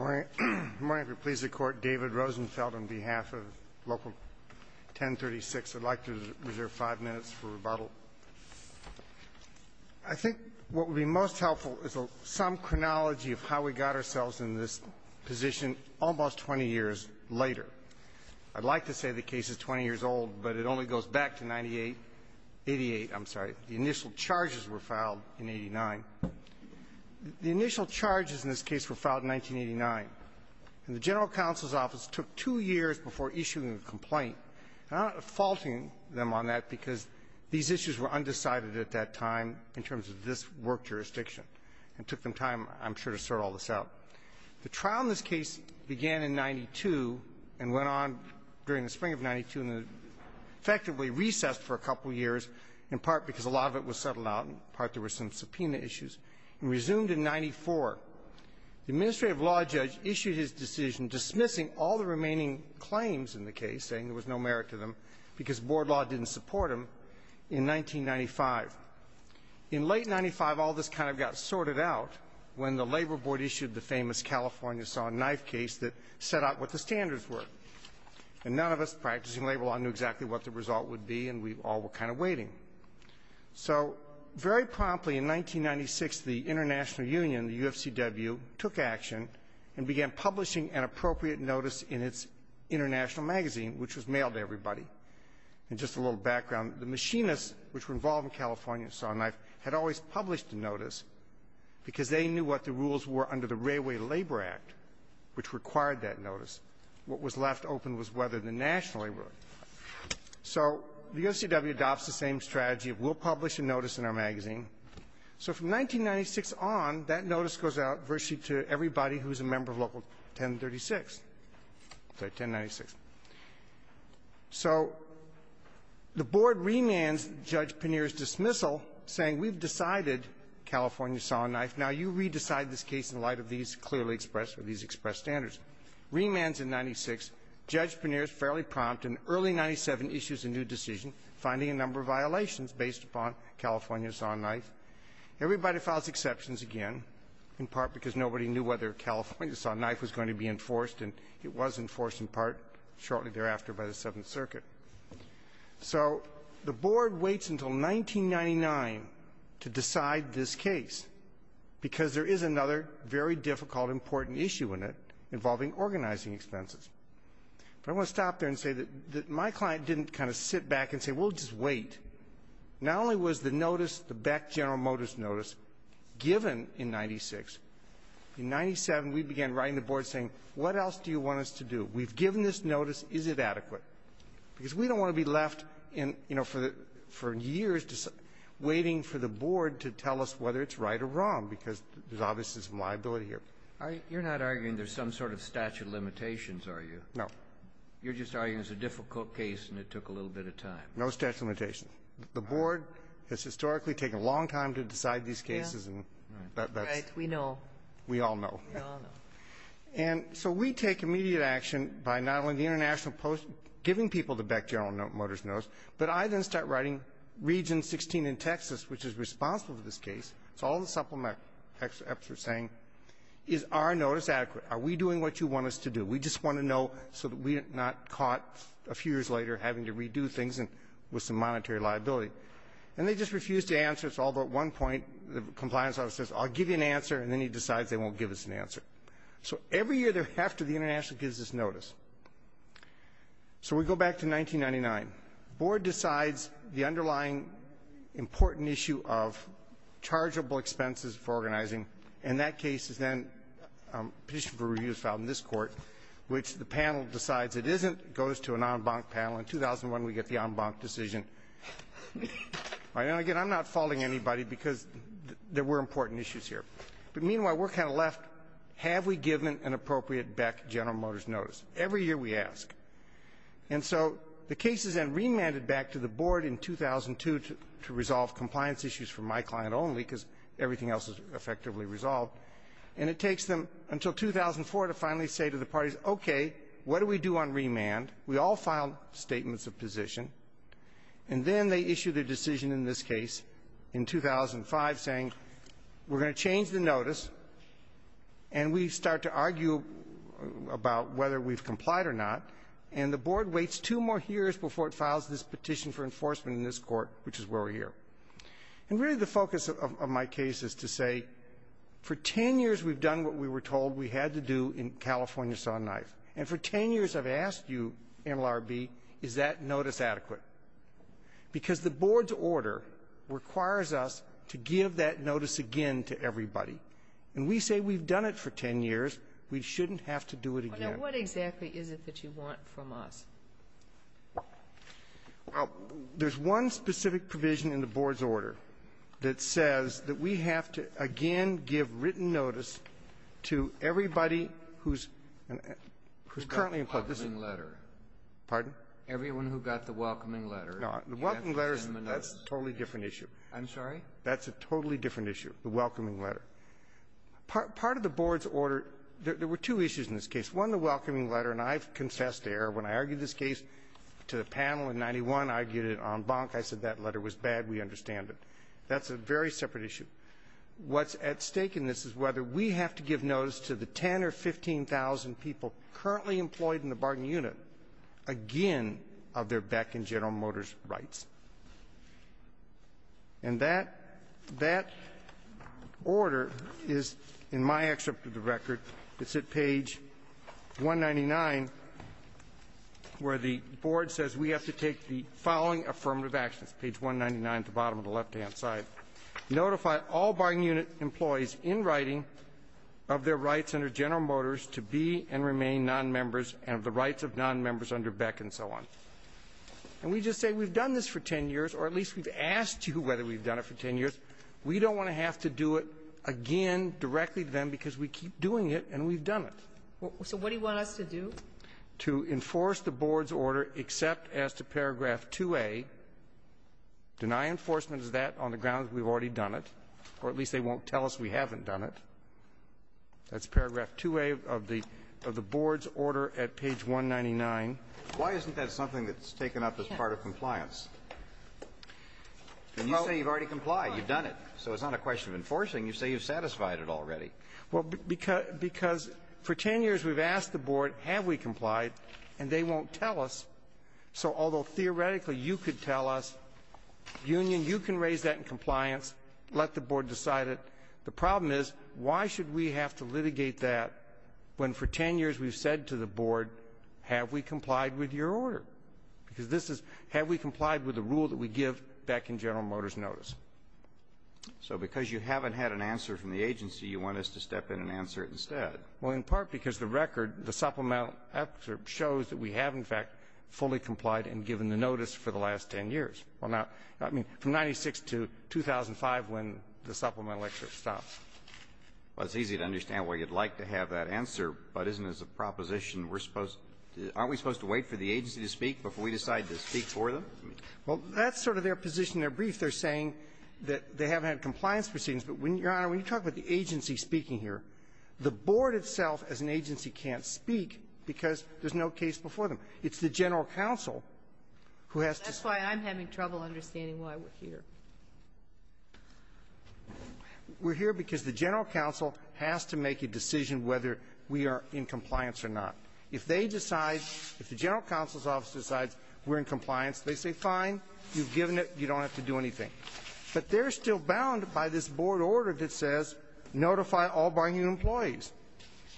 I think what would be most helpful is some chronology of how we got ourselves in this position almost 20 years later. I'd like to say the case is 20 years old, but it only goes back to 1988. The initial charges were filed in 1989. The initial charges in this case were filed in 1989. And the General Counsel's Office took two years before issuing a complaint. I'm not faulting them on that, because these issues were undecided at that time in terms of this work jurisdiction. It took them time, I'm sure, to sort all this out. The trial in this case began in 1992 and went on during the spring of 1992 and effectively recessed for a couple years, in part because a lot of it was settled out and, in part, there were some subpoena issues, and resumed in 1994. The administrative law judge issued his decision dismissing all the remaining claims in the case, saying there was no merit to them because board law didn't support them, in 1995. In late 1995, all this kind of got sorted out when the Labor Board issued the famous California saw and knife case that set out what the standards were. And none of us practicing labor law knew exactly what the result would be, and we all were kind of waiting. So very promptly in 1996, the International Union, the UFCW, took action and began publishing an appropriate notice in its international magazine, which was mailed to everybody. And just a little background. The machinists, which were involved in California saw and knife, had always published the notice because they knew what the rules were under the Railway Labor Act, which required that notice. What was left open was whether the national labor law. So the UFCW adopts the same strategy. It will publish a notice in our magazine. So from 1996 on, that notice goes out virtually to everybody who's a member of Local 1036. Sorry, 1096. So the board remands Judge Pannier's dismissal, saying we've decided California saw and knife. Now you re-decide this case in light of these clearly expressed or these expressed standards. Remands in 1996. Judge Pannier is fairly prompt. In early 1997, issues a new decision finding a number of violations based upon California saw and knife. Everybody files exceptions again, in part because nobody knew whether California saw and knife was going to be enforced, and it was enforced in part shortly thereafter by the Seventh Circuit. So the board waits until 1999 to decide this case because there is another very difficult, important issue in it involving organizing expenses. But I want to stop there and say that my client didn't kind of sit back and say, well, just wait. Not only was the notice, the Beck General Motors notice, given in 1996, in 1997, we began writing the board saying, what else do you want us to do? We've given this notice. Is it adequate? Because we don't want to be left in, you know, for years waiting for the board to tell us whether it's right or wrong, because there's obviously some liability here. You're not arguing there's some sort of statute of limitations, are you? No. You're just arguing it's a difficult case and it took a little bit of time. No statute of limitations. The board has historically taken a long time to decide these cases, and that's we all know. And so we take immediate action by not only the International Post giving people the Beck General Motors notice, but I then start writing Region 16 in Texas, which is responsible for this case. It's all in the supplemental excerpts we're saying, is our notice adequate? Are we doing what you want us to do? We just want to know so that we're not caught a few years later having to redo things with some monetary liability. And they just refuse to answer us, although at one point the compliance officer says, I'll give you an answer, and then he decides they won't give us an answer. So every year after, the International gives us notice. So we go back to 1999. Board decides the underlying important issue of chargeable expenses for organizing, and that case is then petition for review is filed in this court, which the panel decides it isn't, goes to an en banc panel. In 2001, we get the en banc decision. And again, I'm not faulting anybody because there were important issues here. But meanwhile, we're kind of left, have we given an appropriate Beck General Motors notice? Every year we ask. And so the case is then remanded back to the board in 2002 to resolve compliance issues for my client only because everything else is effectively resolved. And it takes them until 2004 to finally say to the parties, okay, what do we do on remand? We all file statements of position. And then they issue the decision in this case in 2005 saying, we're going to change the notice, and we start to argue about whether we've And the board waits two more years before it files this petition for enforcement in this court, which is where we're here. And really the focus of my case is to say, for ten years we've done what we were told we had to do in California saw and knife. And for ten years I've asked you, MLRB, is that notice adequate? Because the board's order requires us to give that notice again to everybody. And we say we've done it for ten years, we shouldn't have to do it again. Now, what exactly is it that you want from us? There's one specific provision in the board's order that says that we have to, again, give written notice to everybody who's currently in court. This is- Welcoming letter. Pardon? Everyone who got the welcoming letter. No, the welcoming letter, that's a totally different issue. I'm sorry? That's a totally different issue, the welcoming letter. Part of the board's order, there were two issues in this case. One, the welcoming letter, and I've confessed there when I argued this case to the panel in 91, I argued it en banc, I said that letter was bad, we understand it. That's a very separate issue. What's at stake in this is whether we have to give notice to the 10 or 15,000 people currently employed in the bargain unit again of their Beck and General Motors rights. And that, that order is in my excerpt of the record. It's at page 199, where the board says we have to take the following affirmative action. It's page 199 at the bottom of the left-hand side. Notify all bargain unit employees in writing of their rights under General Motors to be and remain non-members and the rights of non-members under Beck and so on. And we just say we've done this for ten years, or at least we've asked you whether we've done it for ten years. We don't want to have to do it again directly to them because we keep doing it and we've done it. So what do you want us to do? To enforce the board's order except as to paragraph 2A, deny enforcement of that on the grounds we've already done it, or at least they won't tell us we haven't done it. That's paragraph 2A of the board's order at page 199. Why isn't that something that's taken up as part of compliance? And you say you've already complied, you've done it, so it's not a question of enforcing. You say you've satisfied it already. Well, because for ten years we've asked the board, have we complied, and they won't tell us. So although theoretically you could tell us, union, you can raise that in compliance, let the board decide it. The problem is, why should we have to litigate that when for ten years we've said to the board, have we complied with your order? Because this is, have we complied with the rule that we give back in General Motors notice? So because you haven't had an answer from the agency, you want us to step in and answer it instead. Well, in part because the record, the supplemental excerpt, shows that we have, in fact, fully complied and given the notice for the last ten years. Well, now, I mean, from 96 to 2005, when the supplemental excerpt stops. Well, it's easy to understand why you'd like to have that answer, but isn't it a proposition we're supposed to, aren't we supposed to wait for the agency to speak before we decide to speak for them? Well, that's sort of their position in their brief. They're saying that they haven't had compliance proceedings. But when, Your Honor, when you talk about the agency speaking here, the board itself as an agency can't speak because there's no case before them. It's the general counsel who has to say that. That's why I'm having trouble understanding why we're here.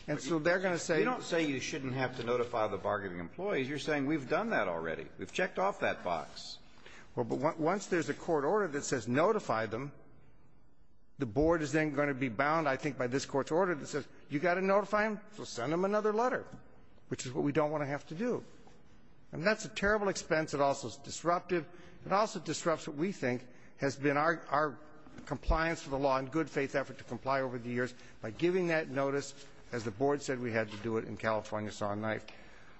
And so they're going to say you shouldn't have to notify the bargaining employees. You're saying we've done that already. We've checked off that box. Well, but once there's a court order that says notify them, the board is then going to be bound, I think, by this court's order that says you've got to notify them, so send them another letter, which is what we don't want to have to do. And that's a terrible expense. It also is disruptive. It also disrupts what we think has been our compliance with the law and good-faith effort to comply over the years by giving that notice, as the board said we had to do it in California saw and knife.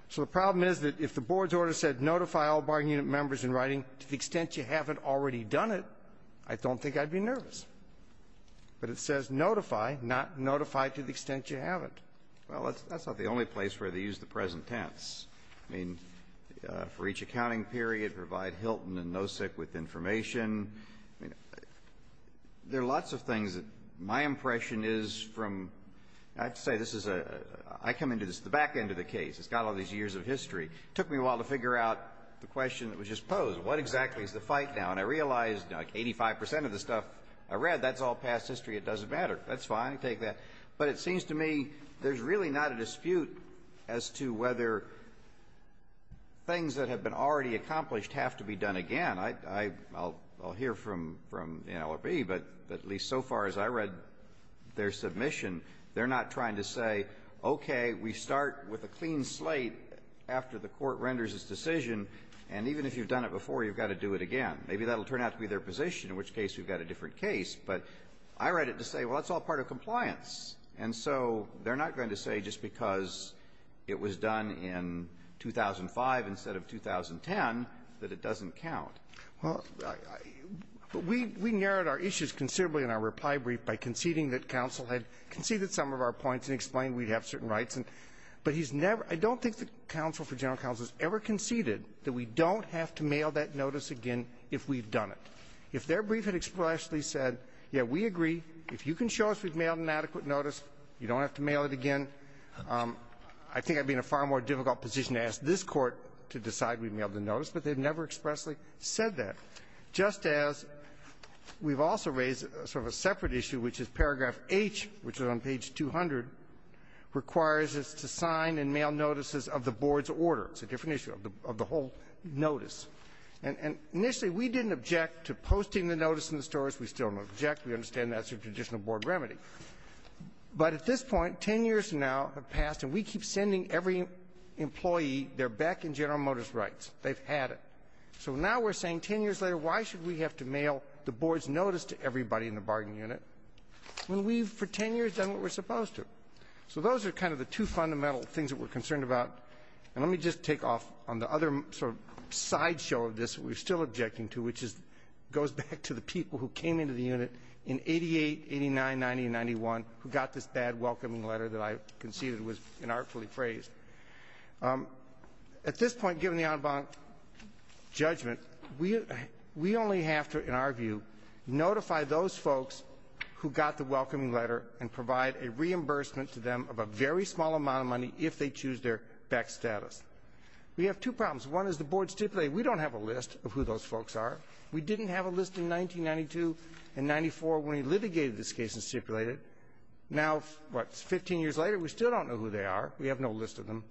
So the problem is that if the board's order said notify all bargaining unit members in writing to the extent you haven't already done it, I don't think I'd be nervous. But it says notify, not notify to the extent you haven't. Well, that's not the only place where they use the present tense. I mean, for each accounting period, provide Hilton and NOSIC with information. I mean, there are lots of things that my impression is from, I have to say, this is a, I come into this, the back end of the case, it's got all these years of history. It took me a while to figure out the question that was just posed. What exactly is the fight now? And I realized, like, 85 percent of the stuff I read, that's all past history. It doesn't matter. That's fine. I take that. But it seems to me there's really not a dispute as to whether things that have been already accomplished have to be done again. I'll hear from NLRB, but at least so far as I read their submission, they're not trying to say, okay, we start with a clean slate after the court renders its decision, and even if you've done it before, you've got to do it again. Maybe that will turn out to be their position, in which case we've got a different case. But I read it to say, well, that's all part of compliance. And so they're not going to say just because it was done in 2005 instead of 2010 that it doesn't count. Well, we narrowed our issues considerably in our reply brief by conceding that counsel had conceded some of our points and explained we'd have certain rights, but he's never – I don't think the counsel for general counsel has ever conceded that we don't have to mail that notice again if we've done it. If their brief had expressly said, yeah, we agree. If you can show us we've mailed an adequate notice, you don't have to mail it again. I think I'd be in a far more difficult position to ask this Court to decide we've mailed the notice, but they've never expressly said that. Just as we've also raised sort of a separate issue, which is paragraph H, which is on page 200, requires us to sign and mail notices of the board's order. It's a different issue of the whole notice. And initially, we didn't object to posting the notice in the stores. We still don't object. We understand that's a traditional board remedy. But at this point, 10 years now have passed, and we keep sending every employee their Beck and General Motors rights. They've had it. So now we're saying 10 years later, why should we have to mail the board's notice to everybody in the bargaining unit when we've, for 10 years, done what we're supposed to? So those are kind of the two fundamental things that we're concerned about. And let me just take off on the other sort of sideshow of this that we're still objecting to, which goes back to the people who came into the unit in 88, 89, 90, and 91 who got this bad welcoming letter that I conceded was inartfully phrased. At this point, given the Audubon judgment, we only have to, in our view, notify those folks who got the welcoming letter and provide a reimbursement to them of a very small amount of money if they choose their Beck status. We have two problems. One is the board stipulated we don't have a list of who those folks are. We didn't have a list in 1992 and 94 when we litigated this case and stipulated it. Now, what, 15 years later, we still don't know who they are. We have no list of them.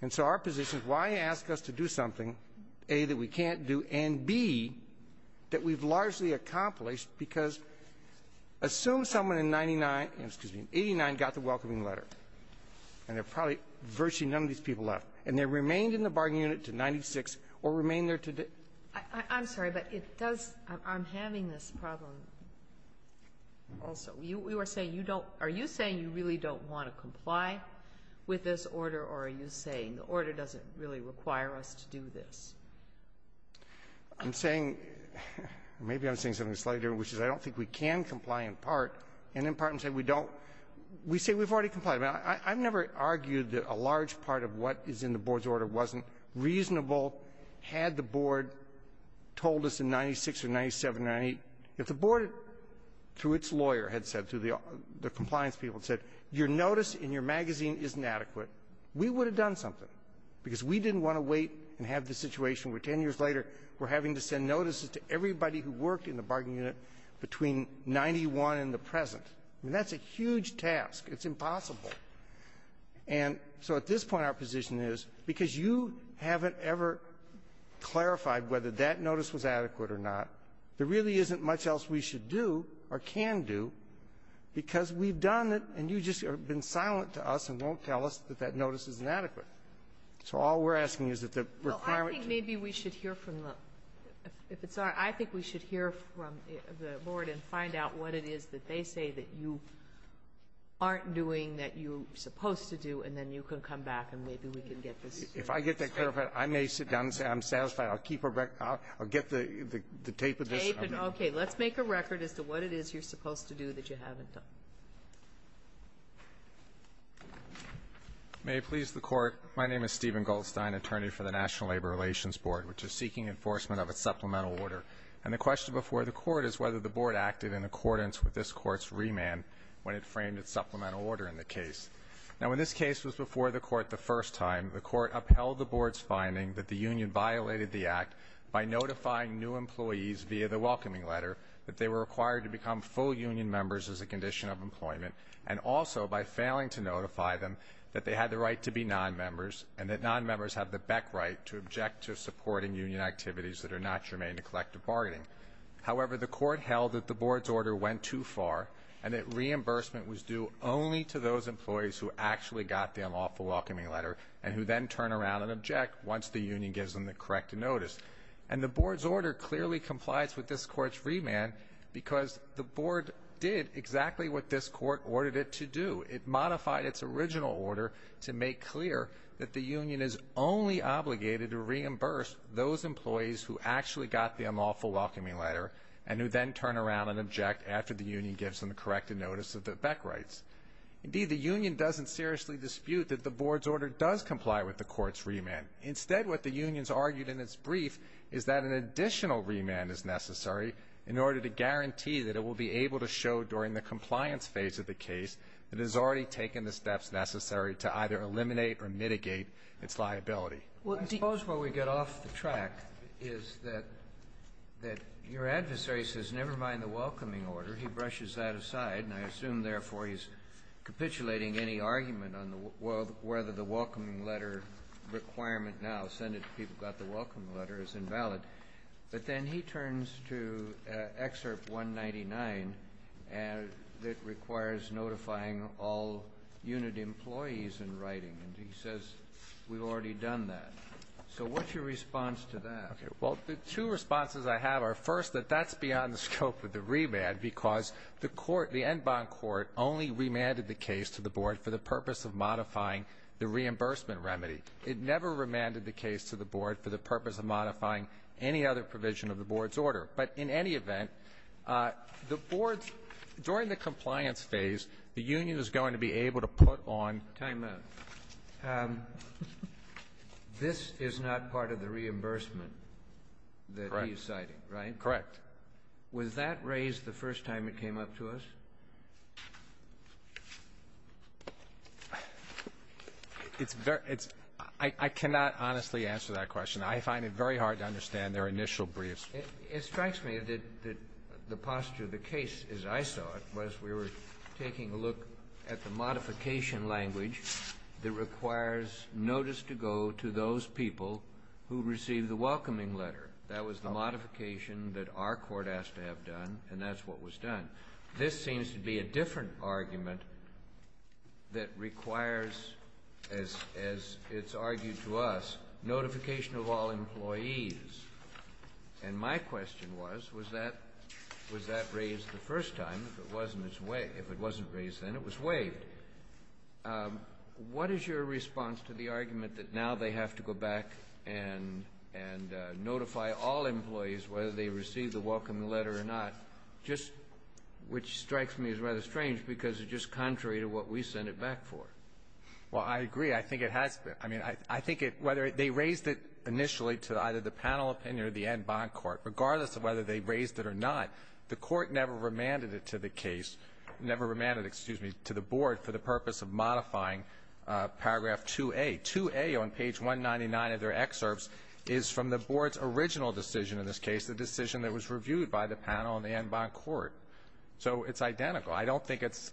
And so our position is why ask us to do something, A, that we can't do, and, B, that we've largely accomplished because assume someone in 99 — excuse me, in 89 got the welcoming letter, and there are probably virtually none of these people left, and they remained in the bargaining unit to 96 or remained there to — I'm sorry, but it does — I'm having this problem also. You are saying you don't — are you saying you really don't want to comply with this order, or are you saying the order doesn't really require us to do this? I'm saying — maybe I'm saying something slightly different, which is I don't think we can comply in part, and in part I'm saying we don't. We say we've already complied. I've never argued that a large part of what is in the board's order wasn't reasonable had the board told us in 96 or 97 or 98. If the board, through its lawyer, had said, through the compliance people had said, your notice in your magazine isn't adequate, we would have done something, because we didn't want to wait and have the situation where 10 years later we're having to send notices to everybody who worked in the bargaining unit between 91 and the present. I mean, that's a huge task. It's impossible. And so at this point, our position is, because you haven't ever clarified whether that notice was adequate or not, there really isn't much else we should do or can do, because we've done it, and you just have been silent to us and won't tell us that that notice is inadequate. So all we're asking is that the requirement — Maybe we should hear from the — if it's all right, I think we should hear from the board and find out what it is that they say that you aren't doing that you're supposed to do, and then you can come back, and maybe we can get this — If I get that clarified, I may sit down and say I'm satisfied. I'll keep a record. I'll get the tape of this. Okay. Let's make a record as to what it is you're supposed to do that you haven't done. May it please the Court. My name is Stephen Goldstein, attorney for the National Labor Relations Board, which is seeking enforcement of a supplemental order. And the question before the Court is whether the Board acted in accordance with this Court's remand when it framed its supplemental order in the case. Now, when this case was before the Court the first time, the Court upheld the Board's finding that the union violated the act by notifying new employees via the welcoming letter that they were required to become full union members as a condition of employment and also by failing to notify them that they had the right to become members and that nonmembers have the beck right to object to supporting union activities that are not germane to collective bargaining. However, the Court held that the Board's order went too far and that reimbursement was due only to those employees who actually got the unlawful welcoming letter and who then turn around and object once the union gives them the correct notice. And the Board's order clearly complies with this Court's remand because the Board did exactly what this Court ordered it to do. It modified its original order to make clear that the union is only obligated to reimburse those employees who actually got the unlawful welcoming letter and who then turn around and object after the union gives them the corrected notice of the beck rights. Indeed, the union doesn't seriously dispute that the Board's order does comply with the Court's remand. Instead, what the union's argued in its brief is that an additional remand is necessary in order to guarantee that it will be able to show during the I suppose what we get off the track is that your adversary says, never mind the welcoming order. He brushes that aside, and I assume, therefore, he's capitulating any argument on whether the welcoming letter requirement now, send it to people who got the welcoming letter, is invalid. But then he turns to Excerpt 199 that requires notifying all employees of the unlawful welcoming letter. All unit employees in writing. And he says, we've already done that. So what's your response to that? Okay. Well, the two responses I have are, first, that that's beyond the scope of the remand because the Court, the Enbonne Court, only remanded the case to the Board for the purpose of modifying the reimbursement remedy. It never remanded the case to the Board for the purpose of modifying any other provision of the Board's order. But in any event, the Board's, during the compliance phase, the union is going to be able to put on ---- Time out. This is not part of the reimbursement that he is citing, right? Correct. Correct. Was that raised the first time it came up to us? It's very – it's – I cannot honestly answer that question. I find it very hard to understand their initial briefs. It strikes me that the posture of the case, as I saw it, was we were taking a look at the modification language that requires notice to go to those people who received the welcoming letter. That was the modification that our court asked to have done, and that's what was done. This seems to be a different argument that requires, as it's argued to us, notification of all employees. And my question was, was that raised the first time? If it wasn't raised then, it was waived. What is your response to the argument that now they have to go back and notify all employees whether they received the welcoming letter or not, which strikes me as rather strange because it's just contrary to what we sent it back for? Well, I agree. I think it has been. I mean, I think whether they raised it initially to either the panel opinion or the bond court, regardless of whether they raised it or not, the court never remanded it to the case, never remanded it, excuse me, to the board for the purpose of modifying paragraph 2A. 2A on page 199 of their excerpts is from the board's original decision in this case, the decision that was reviewed by the panel and the bond court. So it's identical. I don't think it's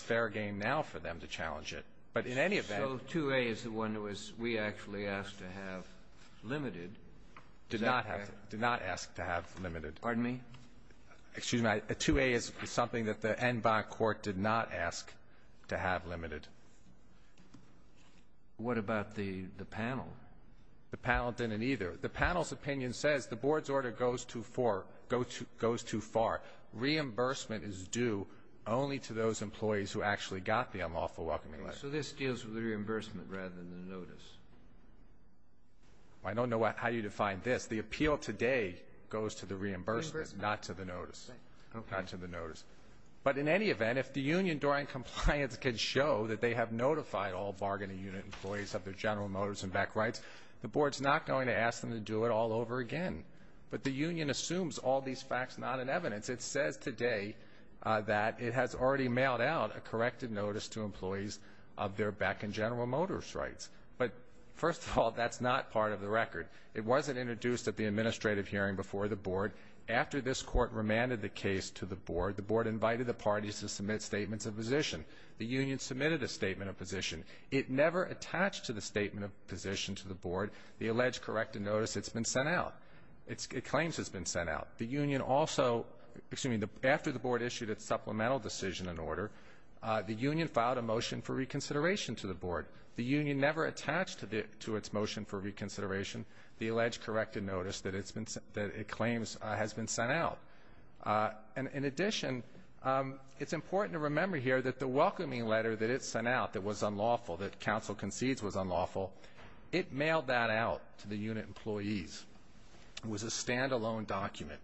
fair game now for them to challenge it. But in any event ---- So 2A is the one that we actually asked to have limited. Did not ask to have limited. Pardon me? Excuse me. 2A is something that the end bond court did not ask to have limited. What about the panel? The panel didn't either. The panel's opinion says the board's order goes too far. Reimbursement is due only to those employees who actually got the unlawful welcoming letter. So this deals with the reimbursement rather than the notice. I don't know how you define this. The appeal today goes to the reimbursement. Not to the notice. Okay. Not to the notice. But in any event, if the union during compliance can show that they have notified all bargaining unit employees of their General Motors and BEC rights, the board's not going to ask them to do it all over again. But the union assumes all these facts not in evidence. It says today that it has already mailed out a corrected notice to employees of their BEC and General Motors rights. But first of all, that's not part of the record. It wasn't introduced at the administrative hearing before the board. After this court remanded the case to the board, the board invited the parties to submit statements of position. The union submitted a statement of position. It never attached to the statement of position to the board the alleged corrected notice it's been sent out. It claims it's been sent out. The union also, excuse me, after the board issued its supplemental decision and order, the union filed a motion for reconsideration to the board. The union never attached to its motion for reconsideration the alleged corrected notice that it claims has been sent out. In addition, it's important to remember here that the welcoming letter that it sent out that was unlawful, that counsel concedes was unlawful, it mailed that out to the unit employees. It was a stand-alone document.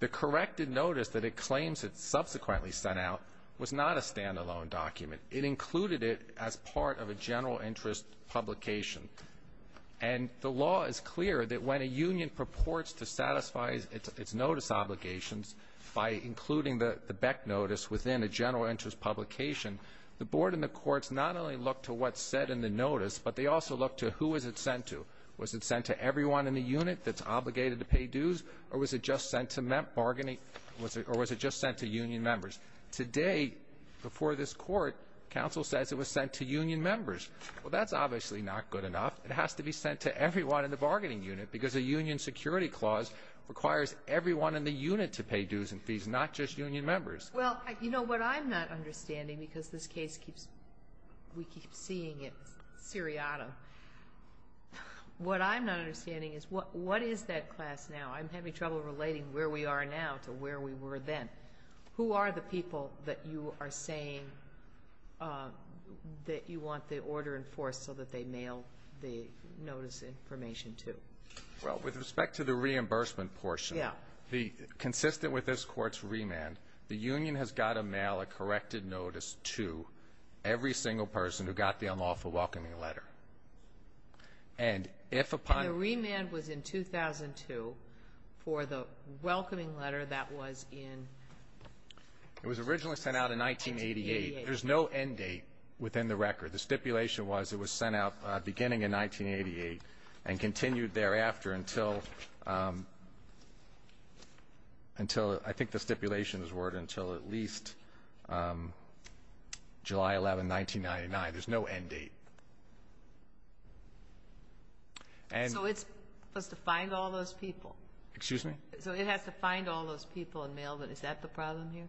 The corrected notice that it claims it subsequently sent out was not a stand-alone document. It included it as part of a general interest publication. And the law is clear that when a union purports to satisfy its notice obligations by including the BEC notice within a general interest publication, the board and the courts not only look to what's said in the notice, but they also look to who is it sent to. Was it sent to everyone in the unit that's obligated to pay dues, or was it just sent to bargaining, or was it just sent to union members? Today, before this court, counsel says it was sent to union members. Well, that's obviously not good enough. It has to be sent to everyone in the bargaining unit because a union security clause requires everyone in the unit to pay dues and fees, not just union members. Well, you know what I'm not understanding because this case keeps, we keep seeing it seriatim. What I'm not understanding is what is that class now? I'm having trouble relating where we are now to where we were then. Who are the people that you are saying that you want the order enforced so that they mail the notice information to? Well, with respect to the reimbursement portion, consistent with this court's remand, the union has got to mail a corrected notice to every single person who got the unlawful welcoming letter. And if upon... It was in 2002 for the welcoming letter that was in 1988. It was originally sent out in 1988. There's no end date within the record. The stipulation was it was sent out beginning in 1988 and continued thereafter until I think the stipulation is word until at least July 11, 1999. There's no end date. So it's supposed to find all those people. Excuse me? So it has to find all those people and mail them. Is that the problem here?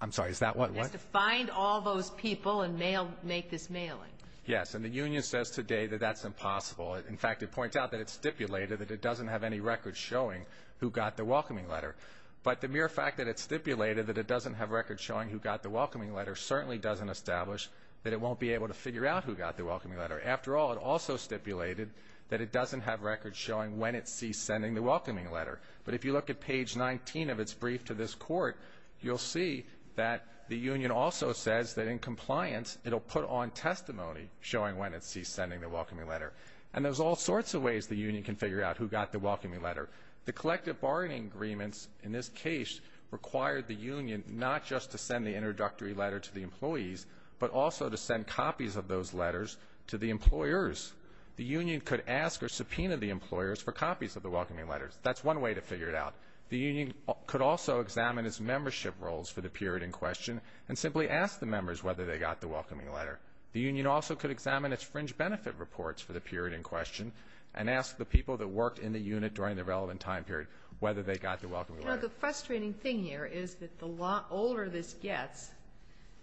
I'm sorry. Is that what? It has to find all those people and make this mailing. Yes. And the union says today that that's impossible. In fact, it points out that it stipulated that it doesn't have any records showing who got the welcoming letter. But the mere fact that it stipulated that it doesn't have records showing who got the welcoming letter certainly doesn't establish that it won't be able to figure out who got the welcoming letter. After all, it also stipulated that it doesn't have records showing when it ceased sending the welcoming letter. But if you look at page 19 of its brief to this court, you'll see that the union also says that in compliance it'll put on testimony showing when it ceased sending the welcoming letter. And there's all sorts of ways the union can figure out who got the welcoming letter. The collective bargaining agreements in this case required the union not just to send the introductory letter to the employees, but also to send copies of those letters to the employers. The union could ask or subpoena the employers for copies of the welcoming letters. That's one way to figure it out. The union could also examine its membership roles for the period in question and simply ask the members whether they got the welcoming letter. The union also could examine its fringe benefit reports for the period in question and ask the people that worked in the unit during the relevant time period whether they got the welcoming letter. You know, the frustrating thing here is that the older this gets,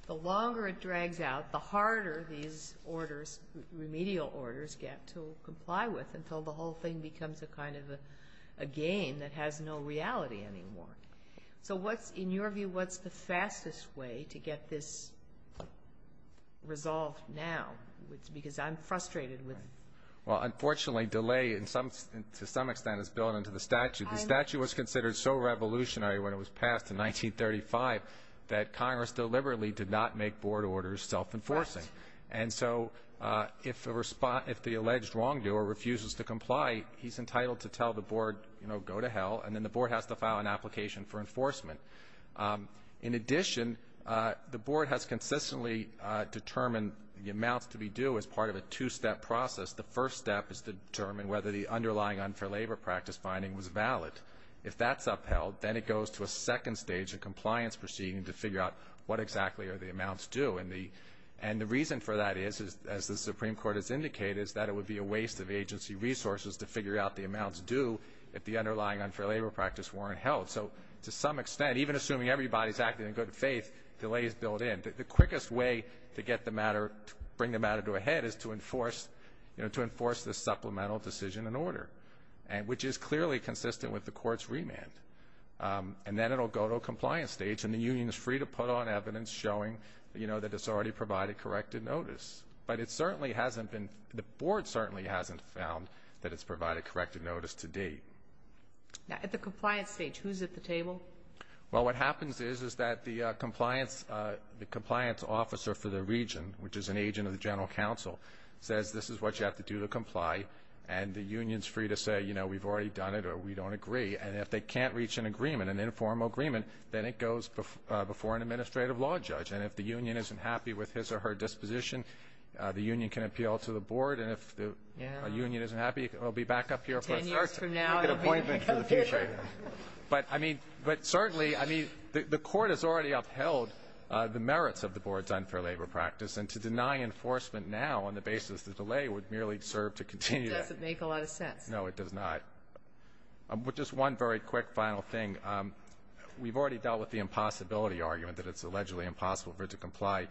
the longer it drags out, the harder these orders, remedial orders get to comply with until the whole thing becomes a kind of a game that has no reality anymore. So what's, in your view, what's the fastest way to get this resolved now? Because I'm frustrated with. Well, unfortunately delay to some extent is built into the statute. The statute was considered so revolutionary when it was passed in 1935 that Congress deliberately did not make board orders self-enforcing. And so, uh, if the respond, if the alleged wrongdoer refuses to comply, he's entitled to tell the board, you know, go to hell and then the board has to file an application for enforcement. Um, in addition, uh, the board has consistently, uh, determined the amounts to be due as part of a two step process. The first step is to determine whether the underlying unfair labor practice finding was valid. If that's upheld, then it goes to a second stage of compliance proceeding to figure out what exactly are the amounts due. And the, and the reason for that is, is as the Supreme Court has indicated, is that it would be a waste of agency resources to figure out the amounts due if the underlying unfair labor practice weren't held. So to some extent, even assuming everybody's acting in good faith, delay is built in. The quickest way to get the matter, bring the matter to a head is to enforce, you know, to enforce the supplemental decision in order. And which is clearly consistent with the court's remand. Um, and then it'll go to a compliance stage and the union is free to put on evidence showing, you know, that it's already provided corrected notice. But it certainly hasn't been, the board certainly hasn't found that it's provided corrected notice to date. Now at the compliance stage, who's at the table? Well, what happens is, is that the, uh, compliance, uh, the compliance officer for the region, which is an agent of the general council, says, this is what you have to do to comply. And the union's free to say, you know, we've already done it or we don't agree. And if they can't reach an agreement, an informal agreement, then it goes before, uh, before an administrative law judge. And if the union isn't happy with his or her disposition, uh, the union can appeal to the board. And if the union isn't happy, it'll be back up here. But I mean, but certainly, I mean, the court has already upheld, uh, the merits of the board's unfair labor practice. And to deny enforcement now on the basis of the delay would merely serve to continue. Does it make a lot of sense? No, it does not. Um, just one very quick final thing. Um, we've already dealt with the impossibility argument that it's allegedly impossible for it to comply.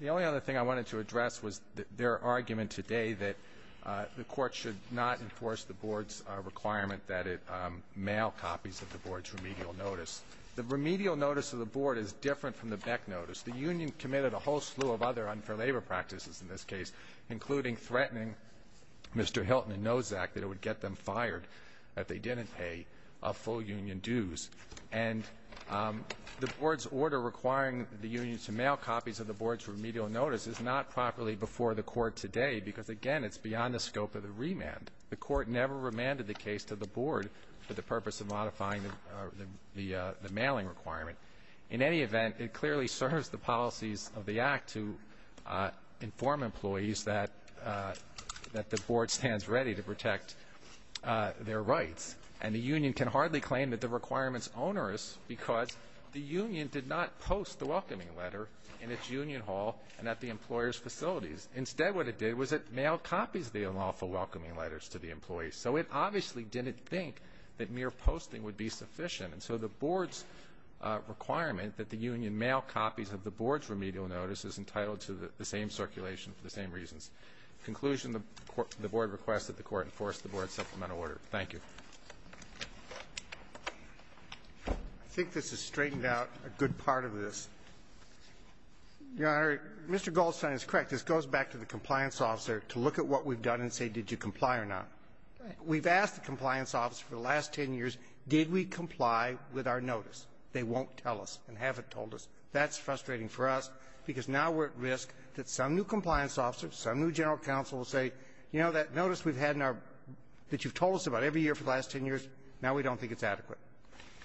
The only other thing I wanted to address was their argument today that, uh, the court should not enforce the board's, uh, requirement that it, um, mail copies of the board's remedial notice. The remedial notice of the board is different from the Beck notice. The union committed a whole slew of other unfair labor practices in this case, including threatening Mr. Hilton and Nozak that it would get them fired if they didn't pay a full union dues. And, um, the board's order requiring the union to mail copies of the board's remedial notice is not properly before the court today, because, again, it's beyond the scope of the remand. The court never remanded the case to the board for the purpose of modifying the, uh, the mailing requirement. In any event, it clearly serves the policies of the act to, uh, inform employees that, uh, that the board stands ready to protect, uh, their rights. And the union can hardly claim that the requirement's onerous, because the union did not post the welcoming letter in its union hall and at the employer's facilities. Instead, what it did was it mailed copies of the unlawful welcoming letters to the employees. So it obviously didn't think that mere posting would be sufficient. And so the board's, uh, requirement that the union mail copies of the board's remedial notice is entitled to the same circulation for the same reasons. In conclusion, the board requested the court enforce the board's supplemental order. Thank you. I think this has straightened out a good part of this. Your Honor, Mr. Goldstein is correct. This goes back to the compliance officer to look at what we've done and say, did you comply or not? We've asked the compliance officer for the last ten years, did we comply with our notice? They won't tell us and haven't told us. That's frustrating for us, because now we're at risk that some new compliance officer, some new general counsel will say, you know, that notice we've had in our, that you've told us about every year for the last ten years, now we don't think it's adequate.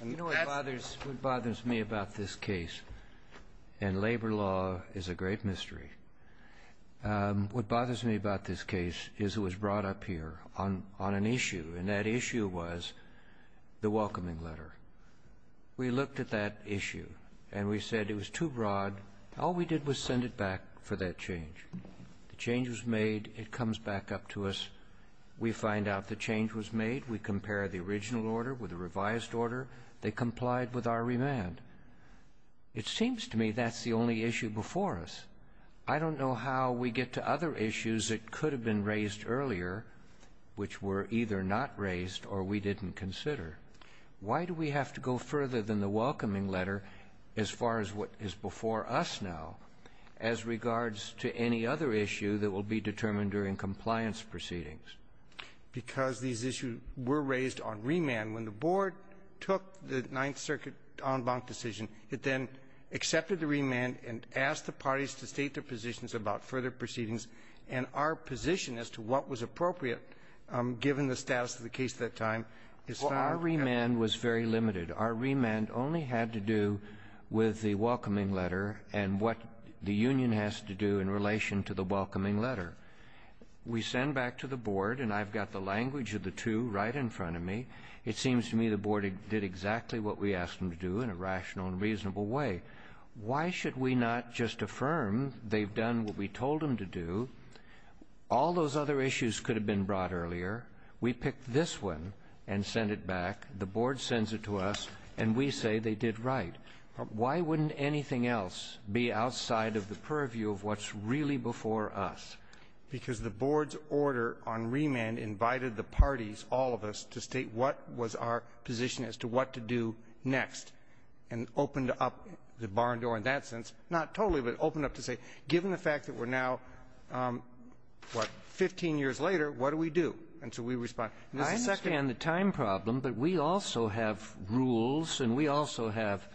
You know what bothers, what bothers me about this case, and labor law is a great mystery, what bothers me about this case is it was brought up here on, on an issue, and that issue was the welcoming letter. We looked at that issue and we said it was too broad. All we did was send it back for that change. The change was made. It comes back up to us. We find out the change was made. We compare the original order with a revised order. They complied with our remand. It seems to me that's the only issue before us. I don't know how we get to other issues that could have been raised earlier, which were either not raised or we didn't consider. Why do we have to go further than the welcoming letter as far as what is before us now as regards to any other issue that will be determined during compliance proceedings? Because these issues were raised on remand. When the board took the Ninth Circuit en banc decision, it then accepted the remand and asked the parties to state their positions about further proceedings and our position as to what was appropriate, given the status of the case at that time. Our remand was very limited. Our remand only had to do with the welcoming letter and what the union has to do in relation to the welcoming letter. We send back to the board, and I've got the language of the two right in front of me. It seems to me the board did exactly what we asked them to do in a rational and reasonable way. Why should we not just affirm they've done what we told them to do? All those other issues could have been brought earlier. We picked this one and sent it back. The board sends it to us, and we say they did right. Why wouldn't anything else be outside of the purview of what's really before us? Because the board's order on remand invited the parties, all of us, to state what was our position as to what to do next, and opened up the barn door in that sense. Not totally, but opened up to say, given the fact that we're now, what, 15 years later, what do we do? And so we respond. I understand the time problem, but we also have rules, and we also have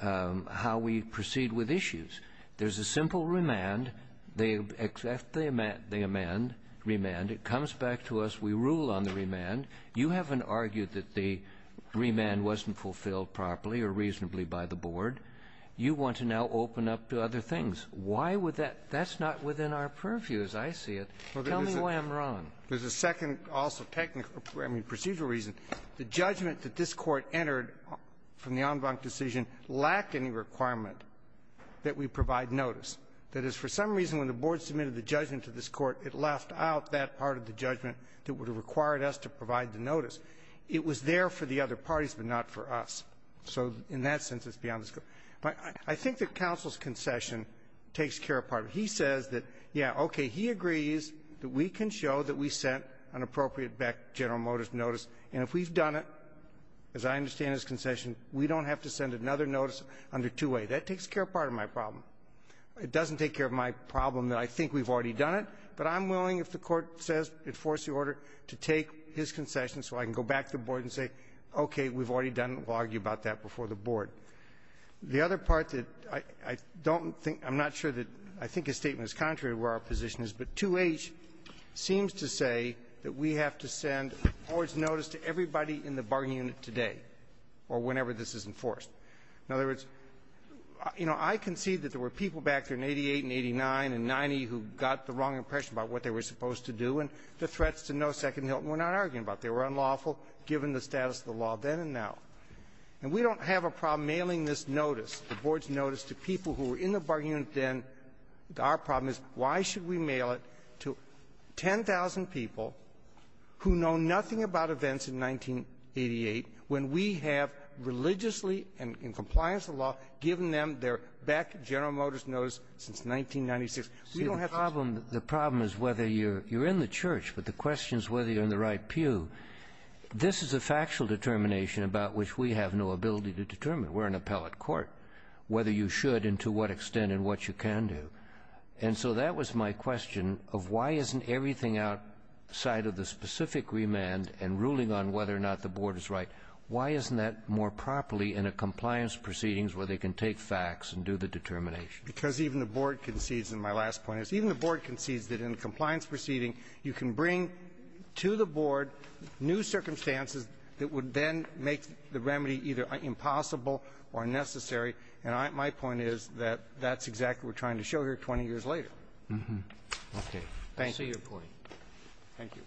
how we proceed with issues. There's a simple remand. They accept the amend, remand. It comes back to us. We rule on the remand. You haven't argued that the remand wasn't fulfilled properly or reasonably by the board. You want to now open up to other things. Why would that? That's not within our purview, as I see it. Tell me why I'm wrong. There's a second, also, technical, I mean, procedural reason. The judgment that this Court entered from the en banc decision lacked any requirement that we provide notice. That is, for some reason, when the board submitted the judgment to this Court, it left out that part of the judgment that would have required us to provide the notice. It was there for the other parties, but not for us. So, in that sense, it's beyond this Court. I think that counsel's concession takes care of part of it. He says that, yeah, okay, he agrees that we can show that we sent an appropriate back General Motors notice, and if we've done it, as I understand his concession, we don't have to send another notice under 2A. That takes care of part of my problem. It doesn't take care of my problem that I think we've already done it, but I'm willing, if the Court says, enforce the order, to take his concession so I can go back to the board and say, okay, we've already done it. We'll argue about that before the board. The other part that I don't think, I'm not sure that, I think his statement is contrary to where our position is, but 2H seems to say that we have to send the board's notice to everybody in the bargaining unit today, or whenever this is enforced. In other words, you know, I concede that there were people back there in 88 and 89 and 90 who got the wrong impression about what they were supposed to do, and the threats to no second hilt were not argued about. They were unlawful, given the status of the law then and now. And we don't have a problem mailing this notice, the board's notice, to people who were in the bargaining unit then. Our problem is, why should we mail it to 10,000 people who know nothing about events in 1988 when we have religiously, and in compliance with the law, given them their back General Motors notice since 1996? We don't have to. See, the problem, the problem is whether you're in the church, but the question is whether you're in the right pew. This is a factual determination about which we have no ability to determine. We're an appellate court, whether you should and to what extent and what you can do. And so that was my question of why isn't everything outside of the specific remand and ruling on whether or not the board is right, why isn't that more properly in a compliance proceedings where they can take facts and do the determination? Because even the board concedes, and my last point is, even the board concedes that in a compliance proceeding you can bring to the board new circumstances that would then make the remedy either impossible or unnecessary. And my point is that that's exactly what we're trying to show here 20 years later. Okay. Thank you. I see your point. Thank you.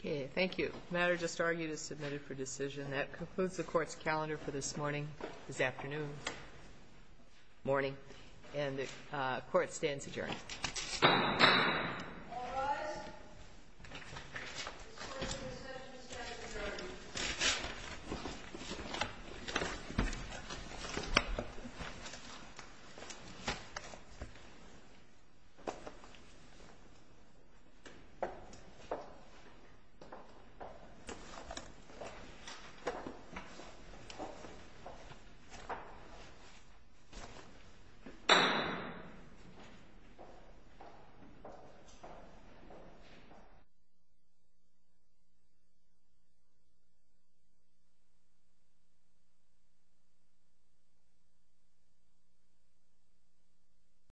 Okay. Thank you. The matter just argued is submitted for decision. That concludes the Court's calendar for this morning, this afternoon, morning. And the Court stands adjourned. All rise. The Court is adjourned. The Court is adjourned.